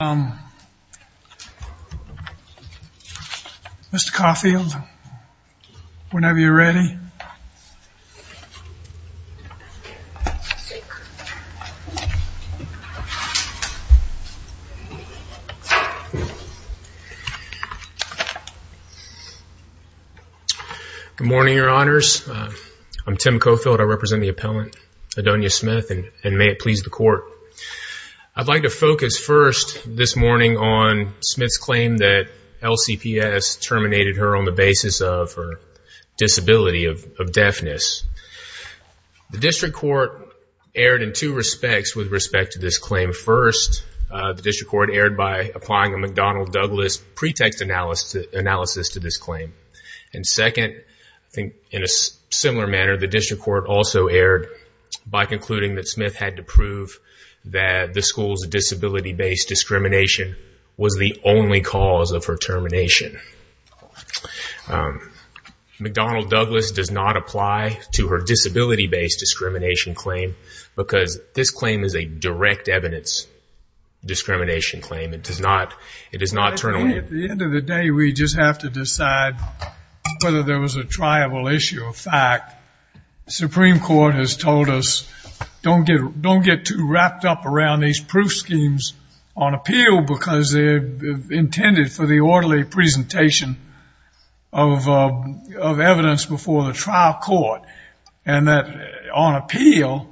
Um, Mr. Caulfield, whenever you're ready. Good morning, your honors. I'm Tim Caulfield. I represent the appellant, Adonia Smith, and may it please the court. I'd like to focus first this morning on Smith's claim that LCPS terminated her on the basis of her disability of deafness. The district court erred in two respects with respect to this claim. First, the district court erred by applying a McDonnell Douglas pretext analysis to this claim. And second, I think in a similar manner, the district court also erred by concluding that Smith had to prove that the school's disability-based discrimination was the only cause of her termination. Um, McDonnell Douglas does not apply to her disability-based discrimination claim because this claim is a direct evidence discrimination claim. It does not, it does not turn away. At the end of the day, we just have to decide whether there was a triable issue or fact. Supreme court has told us, don't get, don't get too wrapped up around these proof schemes on appeal because they're intended for the orderly presentation of, uh, of evidence before the trial court and that on appeal,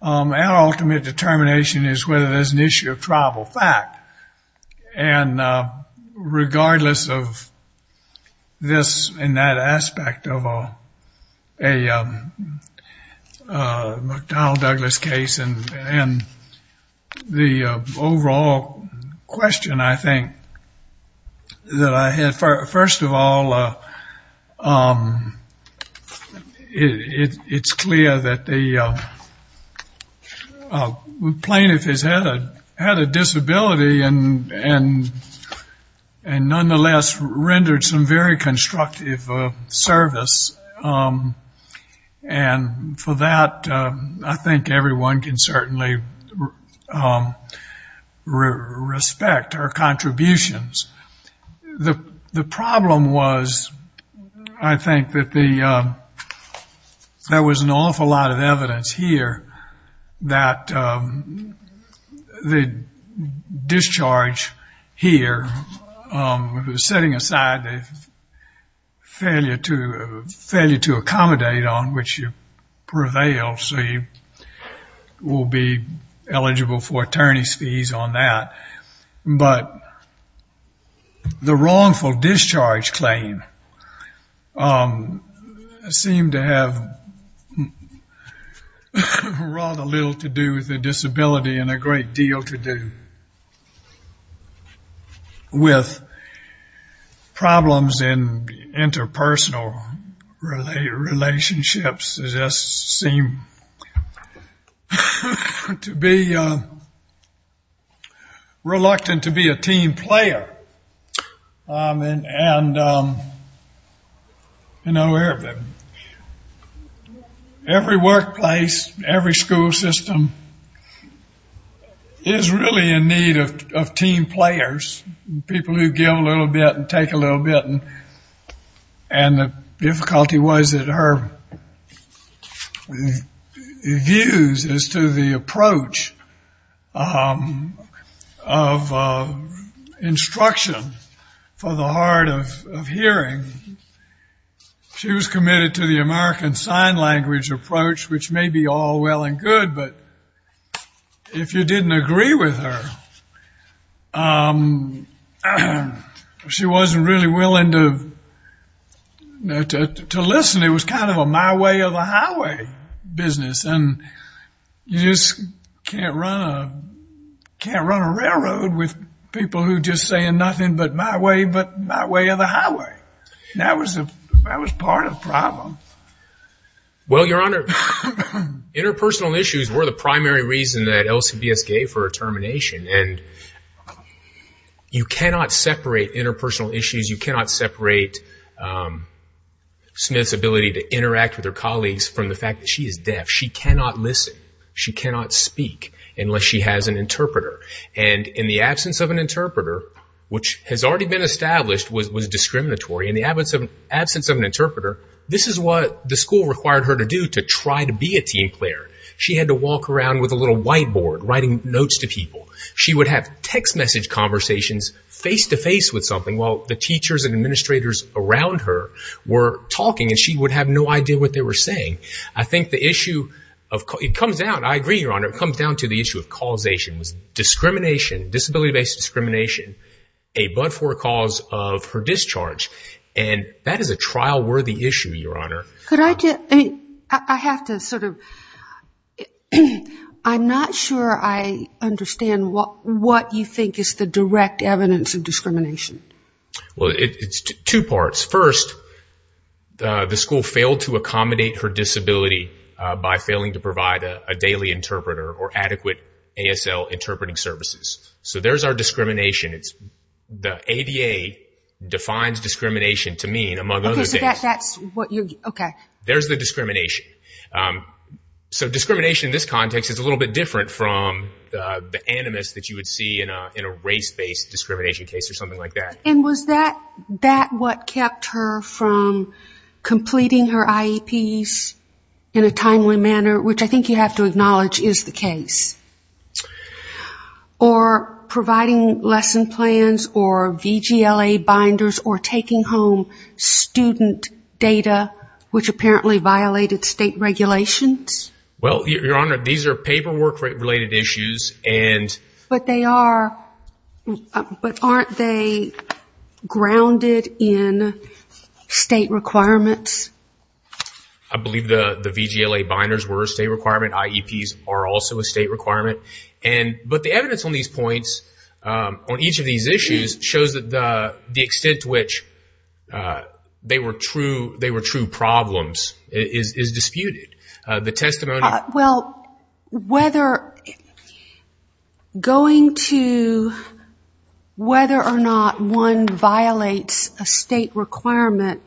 um, our ultimate determination is whether there's an issue of triable fact. And, uh, regardless of this and that aspect of a, a, um, uh, McDonnell Douglas case and, and the overall question, I think that I had, first of all, uh, um, it, it, it's clear that the, uh, uh, plaintiff has had a, had a disability and, and, and nonetheless rendered some very constructive, uh, service, um, and for that, um, I think everyone can certainly, um, respect her contributions. The, the problem was, I think that the, um, there was an awful lot of evidence here that, um, the discharge here, um, setting aside the failure to, failure to accommodate on which you prevailed. So you will be eligible for attorney's fees on that. But the wrongful discharge claim, um, seemed to have rather little to do with the disability and a great deal to do with problems in interpersonal relationships, it just seemed to be, uh, reluctant to be a team player. Um, and, and, um, you know, every workplace, every school system is really in need of, of team players, people who give a little bit and take a little bit and, and the difficulty was that her views as to the approach, um, of, uh, instruction for the hard of, of hearing, she was committed to the American Sign Language approach, which may be all well and good, but if you didn't agree with her, um, she wasn't really willing to, to listen. It was kind of a my way or the highway business and you just can't run a, can't run a railroad with people who just saying nothing but my way, but my way or the highway. That was a, that was part of the problem. Well, Your Honor, interpersonal issues were the primary reason that LCBS gave her a termination and you cannot separate interpersonal issues. You cannot separate, um, Smith's ability to interact with her colleagues from the fact that she is deaf. She cannot listen. She cannot speak unless she has an interpreter and in the absence of an interpreter, which has already been established, was, was discriminatory. In the absence of an interpreter, this is what the school required her to do to try to be a team player. She had to walk around with a little whiteboard, writing notes to people. She would have text message conversations face to face with something while the teachers and administrators around her were talking and she would have no idea what they were saying. I think the issue of, it comes down, I agree, Your Honor, it comes down to the issue of causation was discrimination, disability-based discrimination, a but-for cause of her discharge, and that is a trial worthy issue, Your Honor. Could I just, I have to sort of, I'm not sure I understand what, what you think is the direct evidence of discrimination. Well, it's two parts. First, the school failed to accommodate her disability, uh, by failing to provide a daily interpreter or adequate ASL interpreting services. So there's our discrimination. It's the ADA defines discrimination to mean among other things. That's what you're, okay. There's the discrimination. Um, so discrimination in this context is a little bit different from the animus that you would see in a, in a race-based discrimination case or something like that. And was that, that what kept her from completing her IEPs in a timely manner, which I think you have to acknowledge is the case, or providing lesson plans or VGLA binders or taking home student data, which apparently violated state regulations? Well, Your Honor, these are paperwork related issues and... But they are, but aren't they grounded in state requirements? I believe the VGLA binders were a state requirement. IEPs are also a state requirement. And, but the evidence on these points, um, on each of these issues shows that the, the extent to which, uh, they were true, they were true problems is, is disputed. Uh, the testimony... Well, whether going to, whether or not one violates a state requirement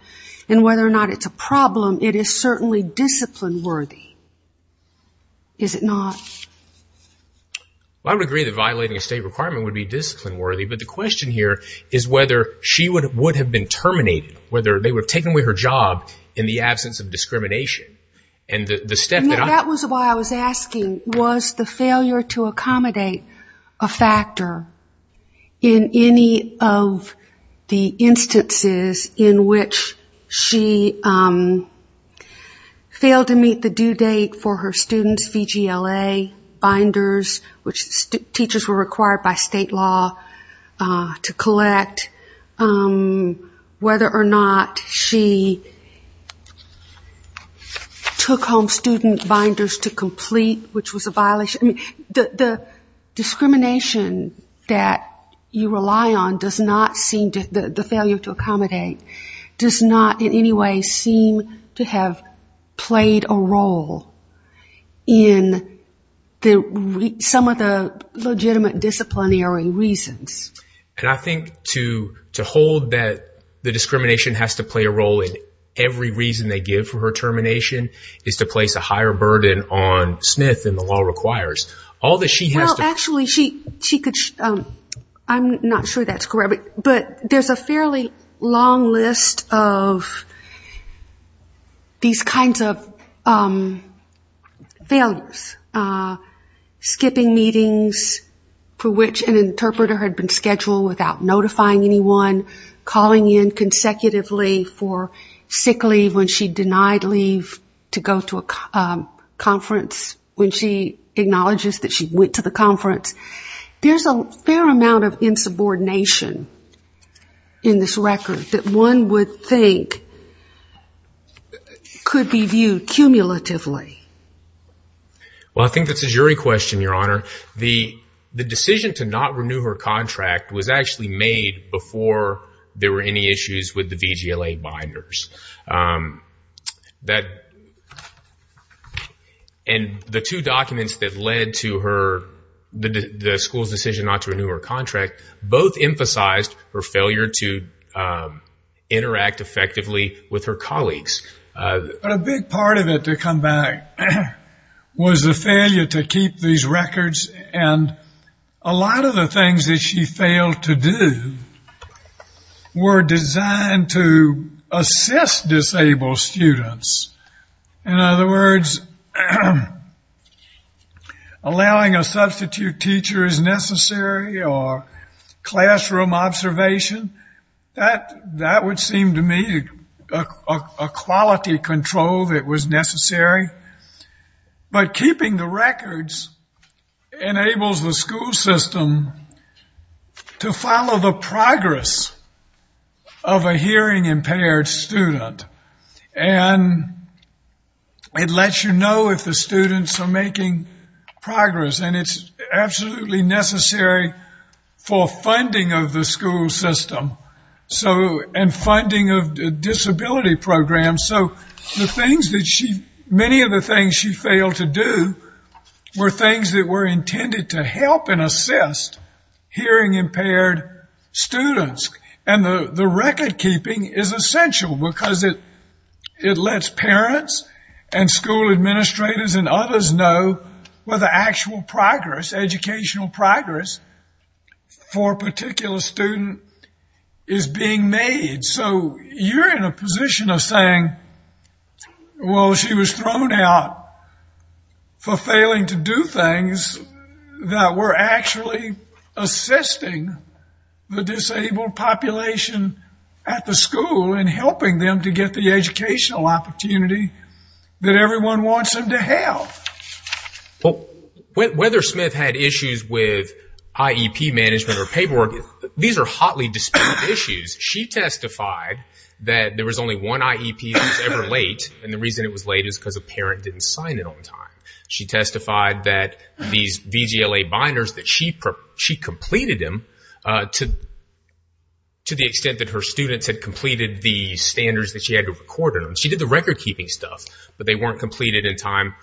and whether or not it's a problem, it is certainly discipline worthy, is it not? Well, I would agree that violating a state requirement would be discipline worthy, but the question here is whether she would, would have been terminated, whether they would have taken away her job in the absence of discrimination. And the, the step that I... That was why I was asking, was the failure to accommodate a factor in any of the instances in which she, um, failed to meet the due date for her students, VGLA binders, which teachers were required by state law, uh, to collect, um, whether or not she took home student binders to complete, which was a violation. I mean, the, the discrimination that you rely on does not seem to, the, the in the, some of the legitimate disciplinary reasons. And I think to, to hold that the discrimination has to play a role in every reason they give for her termination is to place a higher burden on Smith than the law requires. All that she has to... Well, actually she, she could, um, I'm not sure that's correct, but there's a number of, uh, skipping meetings for which an interpreter had been scheduled without notifying anyone, calling in consecutively for sick leave when she denied leave to go to a conference, when she acknowledges that she went to the conference, there's a fair amount of insubordination in this record that one would think could be viewed cumulatively. Well, I think that's a jury question, Your Honor. The, the decision to not renew her contract was actually made before there were any issues with the VGLA binders. Um, that, and the two documents that led to her, the, the school's decision not to renew her contract, both emphasized her failure to, um, interact effectively with her colleagues. But a big part of it to come back was the failure to keep these records. And a lot of the things that she failed to do were designed to assist disabled students, in other words, allowing a substitute teacher as necessary or classroom observation, that, that would seem to me a quality control that was necessary, but keeping the records enables the school system to follow the progress of a hearing impaired student. And it lets you know if the students are making progress and it's absolutely necessary for funding of the school system, so, and funding of disability programs, so the things that she, many of the things she failed to do were things that were intended to help and assist hearing impaired students and the, the record keeping is essential because it, it lets parents and school administrators and others know whether actual progress, educational progress for a particular student is being made. So you're in a position of saying, well, she was thrown out for failing to do things that were actually assisting the disabled population at the school and she failed. Well, whether Smith had issues with IEP management or paperwork, these are hotly disputed issues. She testified that there was only one IEP that was ever late and the reason it was late is because a parent didn't sign it on time. She testified that these VGLA binders that she, she completed them to, to the extent that her students had completed the standards that she had to record in them. She did the record keeping stuff, but they weren't completed in time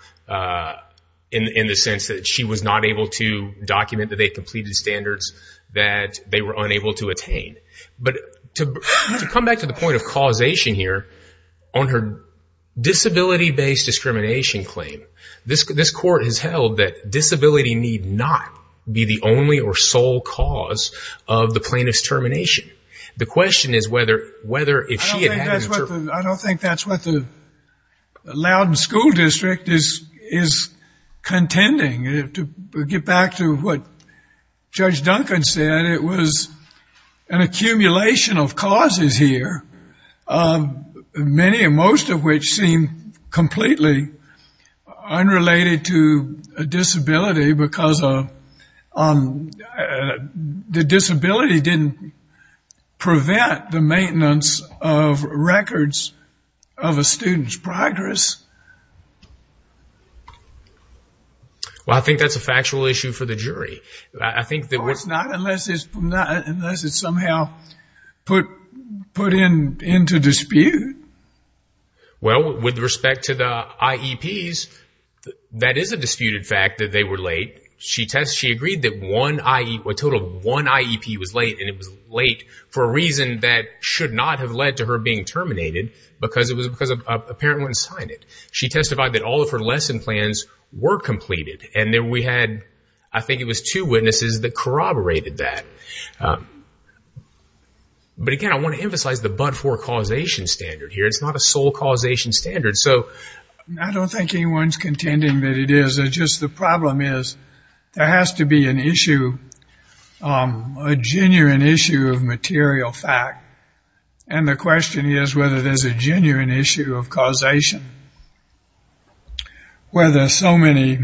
in, in the sense that she was not able to document that they completed standards that they were unable to attain. But to, to come back to the point of causation here, on her disability-based discrimination claim, this, this court has held that disability need not be the only or sole cause of the plaintiff's termination. The question is whether, whether if she had had an interpretation. I don't think that's what the Loudon School District is, is contending. To get back to what Judge Duncan said, it was an accumulation of causes here. Many and most of which seem completely unrelated to a disability because of the disability didn't prevent the maintenance of records of a student's progress. Well, I think that's a factual issue for the jury. I think that what's not, unless it's not, unless it's somehow put, put in, into dispute. Well, with respect to the IEPs, that is a disputed fact that they were late. She test, she agreed that one IEP, a total of one IEP was late. And it was late for a reason that should not have led to her being terminated because it was because a parent wouldn't sign it. She testified that all of her lesson plans were completed. And then we had, I think it was two witnesses that corroborated that. But again, I want to emphasize the but-for causation standard here. It's not a sole causation standard. So I don't think anyone's contending that it is. It's just the problem is there has to be an issue, a genuine issue of material fact. And the question is whether there's a genuine issue of causation. Whether so many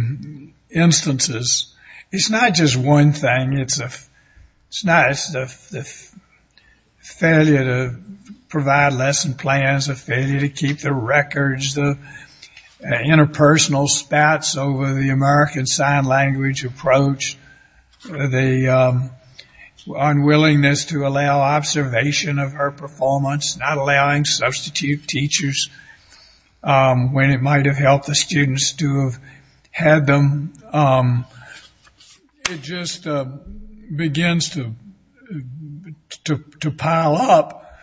instances, it's not just one thing. It's a, it's not, it's a failure to provide lesson plans, a failure to keep the American Sign Language approach, the unwillingness to allow observation of her performance, not allowing substitute teachers when it might have helped the students to have had them. It just begins to, to pile up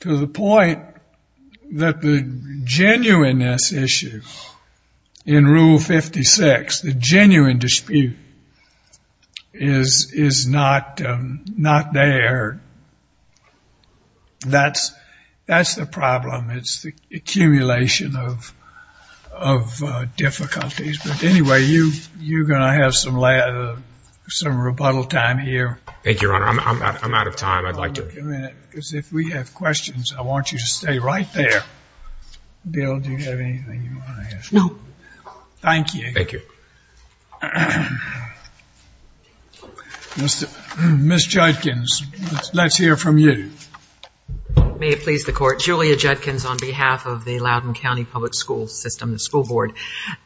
to the point that the genuineness issue in Rule 56, the genuine dispute is, is not, not there. That's, that's the problem. It's the accumulation of, of difficulties. But anyway, you, you're going to have some, some rebuttal time here. Thank you, Your Honor. I'm, I'm, I'm out of time. I'd like to. Because if we have questions, I want you to stay right there. Bill, do you have anything you want to ask? No. Thank you. Thank you. Mr., Ms. Judkins, let's hear from you. May it please the Court. Julia Judkins on behalf of the Loudoun County Public School System, the school board.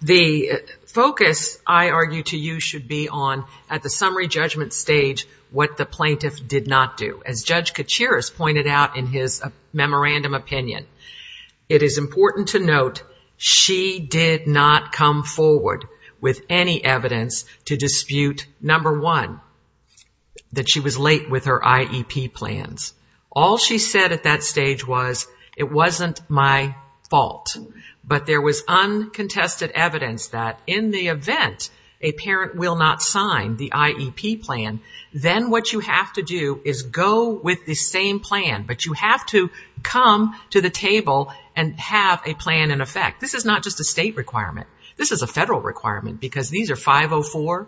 The focus I argue to you should be on, at the summary judgment stage, what the plaintiff did not do. As Judge Kachiris pointed out in his memorandum opinion, it is important to not come forward with any evidence to dispute, number one, that she was late with her IEP plans. All she said at that stage was, it wasn't my fault. But there was uncontested evidence that in the event a parent will not sign the IEP plan, then what you have to do is go with the same plan. But you have to come to the table and have a plan in effect. This is not just a state requirement. This is a federal requirement because these are 504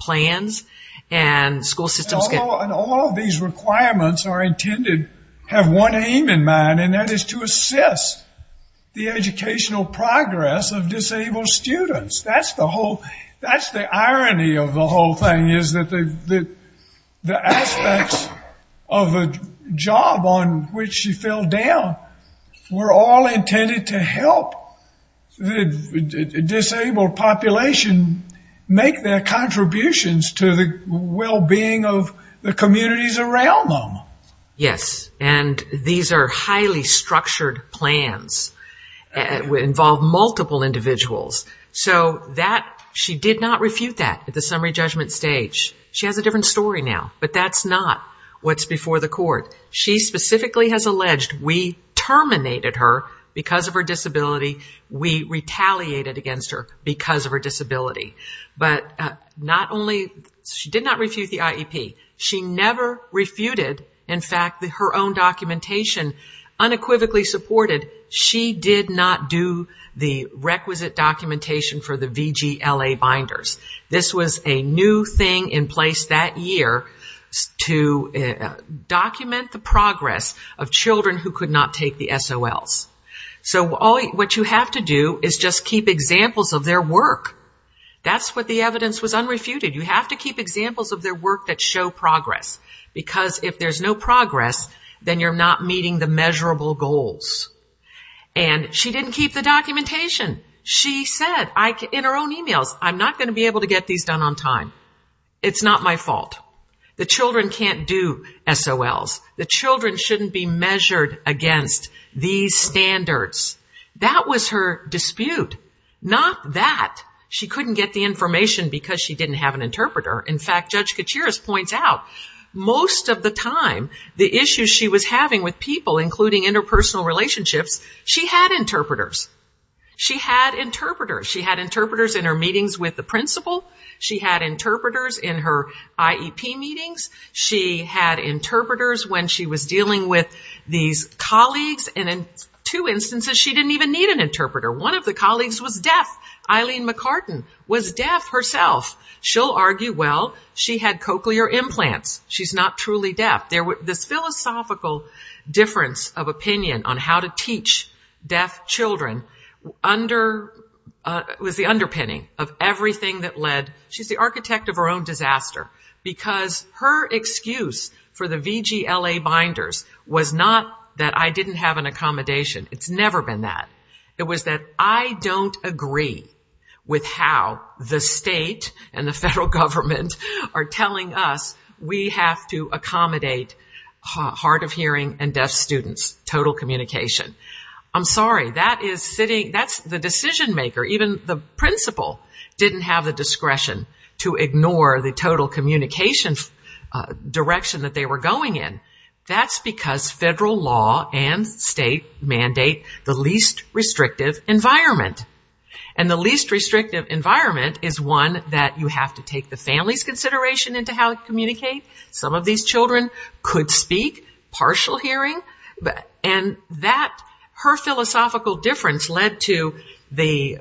plans and school systems can... And all of these requirements are intended, have one aim in mind, and that is to assist the educational progress of disabled students. That's the whole, that's the irony of the whole thing is that the aspects of a job on which she fell down were all intended to help the disabled population make their contributions to the well-being of the communities around them. Yes. And these are highly structured plans that involve multiple individuals. So that, she did not refute that at the summary judgment stage. She has a different story now, but that's not what's before the court. She specifically has alleged, we terminated her because of her disability. We retaliated against her because of her disability. But not only, she did not refute the IEP. She never refuted, in fact, her own documentation unequivocally supported, she did not do the requisite documentation for the VGLA binders. This was a new thing in place that year to document the progress of children who could not take the SOLs. So what you have to do is just keep examples of their work. That's what the evidence was unrefuted. You have to keep examples of their work that show progress, because if there's no progress, then you're not meeting the measurable goals. And she didn't keep the documentation. She said in her own emails, I'm not going to be able to get these done on time. It's not my fault. The children can't do SOLs. The children shouldn't be measured against these standards. That was her dispute. Not that she couldn't get the information because she didn't have an interpreter. In fact, Judge Kachiris points out, most of the time, the issues she was having with people, including interpersonal relationships, she had interpreters. She had interpreters. She had interpreters in her meetings with the principal. She had interpreters in her IEP meetings. She had interpreters when she was dealing with these colleagues. And in two instances, she didn't even need an interpreter. One of the colleagues was deaf. Eileen McCartan was deaf herself. She'll argue, well, she had cochlear implants. She's not truly deaf. This philosophical difference of opinion on how to teach deaf children was the underpinning of everything that led. She's the architect of her own disaster because her excuse for the VGLA binders was not that I didn't have an accommodation. It's never been that. It was that I don't agree with how the state and the federal government are trying to accommodate hard of hearing and deaf students, total communication. I'm sorry, that's the decision maker. Even the principal didn't have the discretion to ignore the total communication direction that they were going in. That's because federal law and state mandate the least restrictive environment. And the least restrictive environment is one that you have to take the family's consideration into how to communicate. Some of these children could speak, partial hearing, and that her philosophical difference led to the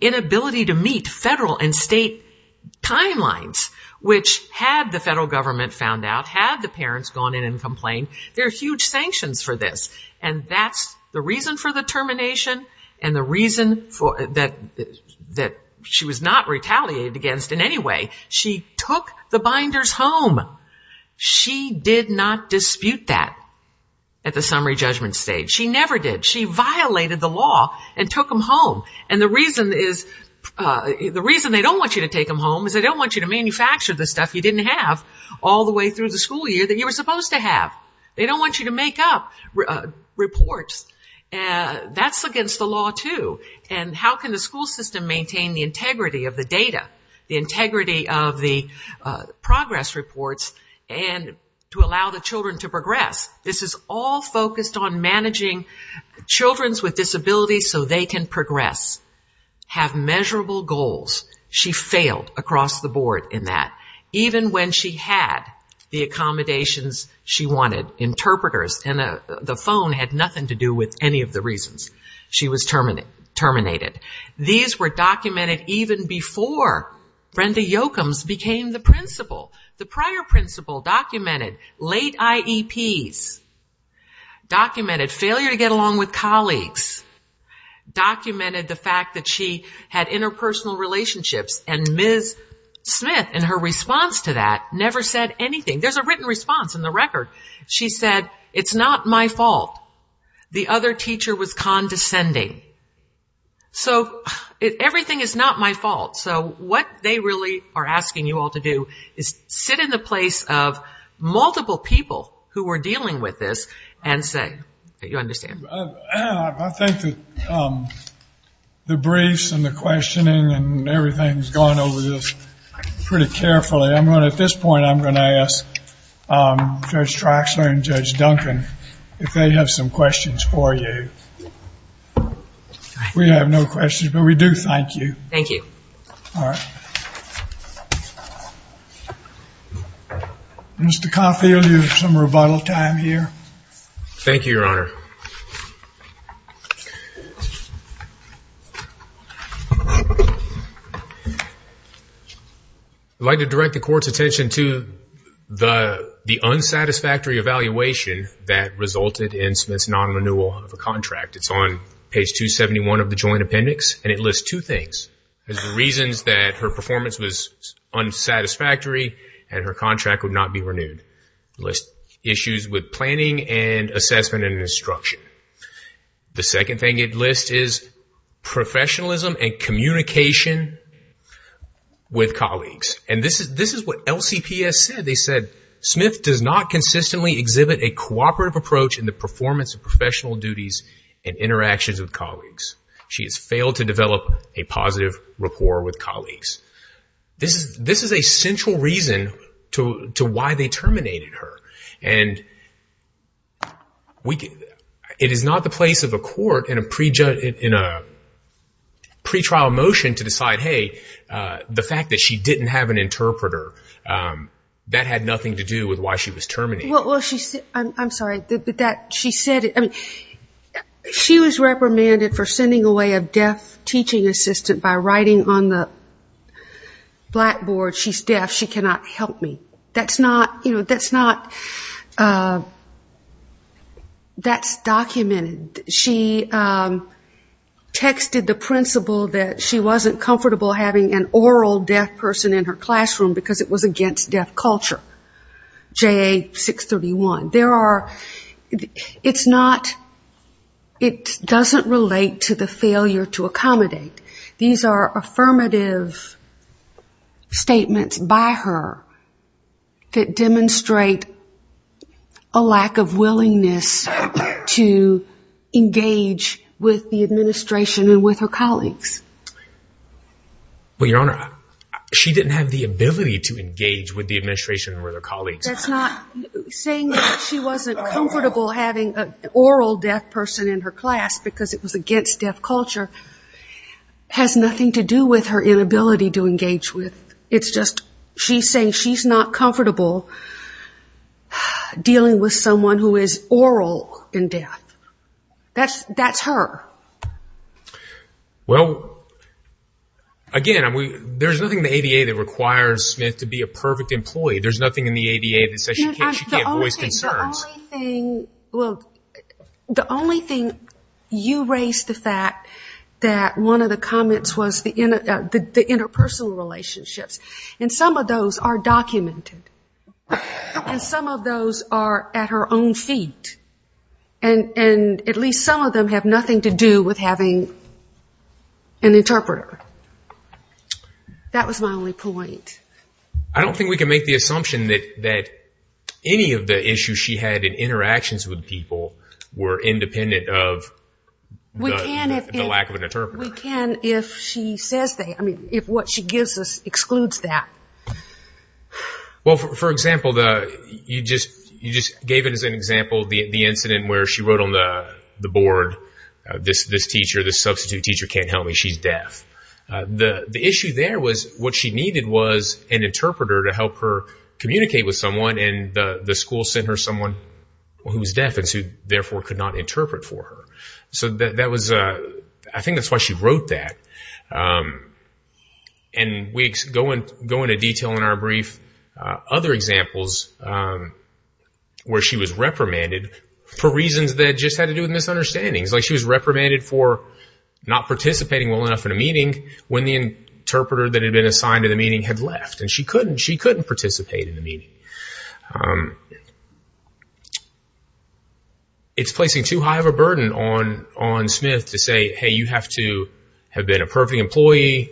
inability to meet federal and state timelines, which had the federal government found out, had the parents gone in and complained, there are huge sanctions for this, and that's the reason for the termination and the reason that she was not retaliated against in any way, she took the binders home. She did not dispute that at the summary judgment stage. She never did. She violated the law and took them home. And the reason they don't want you to take them home is they don't want you to manufacture the stuff you didn't have all the way through the school year that you were supposed to have. They don't want you to make up reports. And that's against the law too. And how can the school system maintain the integrity of the data? The integrity of the progress reports and to allow the children to progress? This is all focused on managing children's with disabilities so they can progress, have measurable goals. She failed across the board in that. Even when she had the accommodations she wanted, interpreters, and the phone had nothing to do with any of the reasons she was terminated. These were documented even before Brenda Yoakum's became the principal. The prior principal documented late IEPs, documented failure to get along with colleagues, documented the fact that she had interpersonal relationships. And Ms. Smith, in her response to that, never said anything. There's a written response in the record. She said, it's not my fault. The other teacher was condescending. So everything is not my fault. So what they really are asking you all to do is sit in the place of multiple people who were dealing with this and say, okay, you understand. I think that the briefs and the questioning and everything's gone over this pretty carefully. I'm going to, at this point, I'm going to ask Judge Traxler and Judge Duncan, if they have some questions for you. We have no questions, but we do thank you. Thank you. All right. Mr. Caulfield, you have some rebuttal time here. Thank you, Your Honor. I'd like to direct the court's attention to the unsatisfactory evaluation that resulted in Smith's non-renewal of a contract. It's on page 271 of the joint appendix, and it lists two things. There's reasons that her performance was unsatisfactory and her contract would not be renewed. It lists issues with planning and assessment and instruction. The second thing it lists is professionalism and communication with colleagues. And this is what LCPS said. They said, Smith does not consistently exhibit a cooperative approach in the interactions with colleagues. She has failed to develop a positive rapport with colleagues. This is a central reason to why they terminated her. It is not the place of a court in a pretrial motion to decide, hey, the fact that she didn't have an interpreter, that had nothing to do with why she was terminated. Well, I'm sorry. She was reprimanded for sending away a deaf teaching assistant by writing on the blackboard, she's deaf, she cannot help me. That's documented. She texted the principal that she wasn't comfortable having an oral deaf person in her classroom because it was against deaf culture, JA 631. There are, it's not, it doesn't relate to the failure to accommodate. These are affirmative statements by her that demonstrate a lack of willingness to engage with the administration and with her colleagues. Well, Your Honor, she didn't have the ability to engage with the administration and with her colleagues. That's not, saying that she wasn't comfortable having an oral deaf person in her class because it was against deaf culture has nothing to do with her inability to engage with. It's just, she's saying she's not comfortable dealing with someone who is oral in deaf. That's, that's her. Well, again, there's nothing in the ADA that requires Smith to be a perfect employee. There's nothing in the ADA that says she can't voice concerns. The only thing, well, the only thing you raised the fact that one of the comments was the interpersonal relationships and some of those are documented and some of those are at her own feet and at least some of them have nothing to do with having an interpreter. That was my only point. I don't think we can make the assumption that, that any of the issues she had in interactions with people were independent of the lack of an interpreter. We can if she says they, I mean, if what she gives us excludes that. Well, for example, the, you just, you just gave it as an example, the, the incident where she wrote on the board, this, this teacher, this substitute teacher can't help me, she's deaf. The, the issue there was what she needed was an interpreter to help her communicate with someone and the school sent her someone who was deaf and so you therefore could not interpret for her. So that, that was, I think that's why she wrote that. And we go into detail in our brief, other examples where she was reprimanded for reasons that just had to do with misunderstandings, like she was when the interpreter that had been assigned to the meeting had left and she couldn't, she couldn't participate in the meeting. It's placing too high of a burden on, on Smith to say, Hey, you have to have been a perfect employee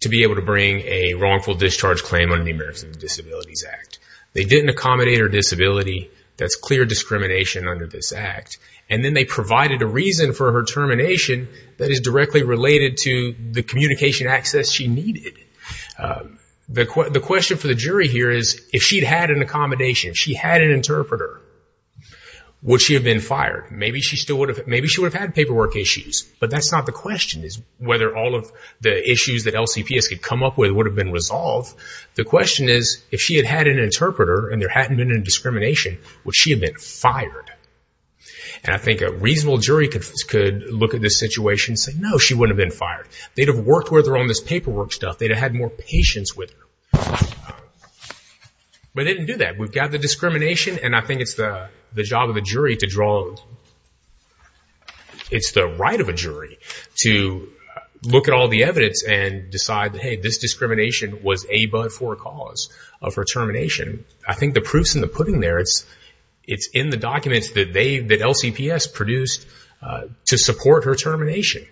to be able to bring a wrongful discharge claim under the Americans with Disabilities Act. They didn't accommodate her disability. That's clear discrimination under this act. And then they provided a reason for her termination that is directly related to the communication access she needed. The, the question for the jury here is if she'd had an accommodation, if she had an interpreter, would she have been fired? Maybe she still would have, maybe she would have had paperwork issues, but that's not the question is whether all of the issues that LCPS could come up with would have been resolved. The question is if she had had an interpreter and there hadn't been any discrimination, would she have been fired? And I think a reasonable jury could, could look at this situation and say, no, she wouldn't have been fired. They'd have worked with her on this paperwork stuff. They'd have had more patience with her, but they didn't do that. We've got the discrimination. And I think it's the job of the jury to draw, it's the right of a jury to look at all the evidence and decide that, Hey, this discrimination was a but for a cause of her termination. I think the proof's in the pudding there. It's, it's in the documents that they, that LCPS produced to support her termination,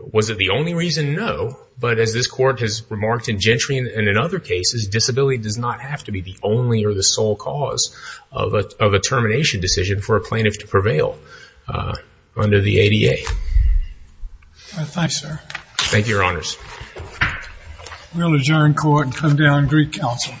was it the only reason? No, but as this court has remarked in Gentry and in other cases, disability does not have to be the only or the sole cause of a, of a termination decision for a plaintiff to prevail under the ADA. Thanks, sir. Thank you, your honors. We'll adjourn court and come down and greet counsel.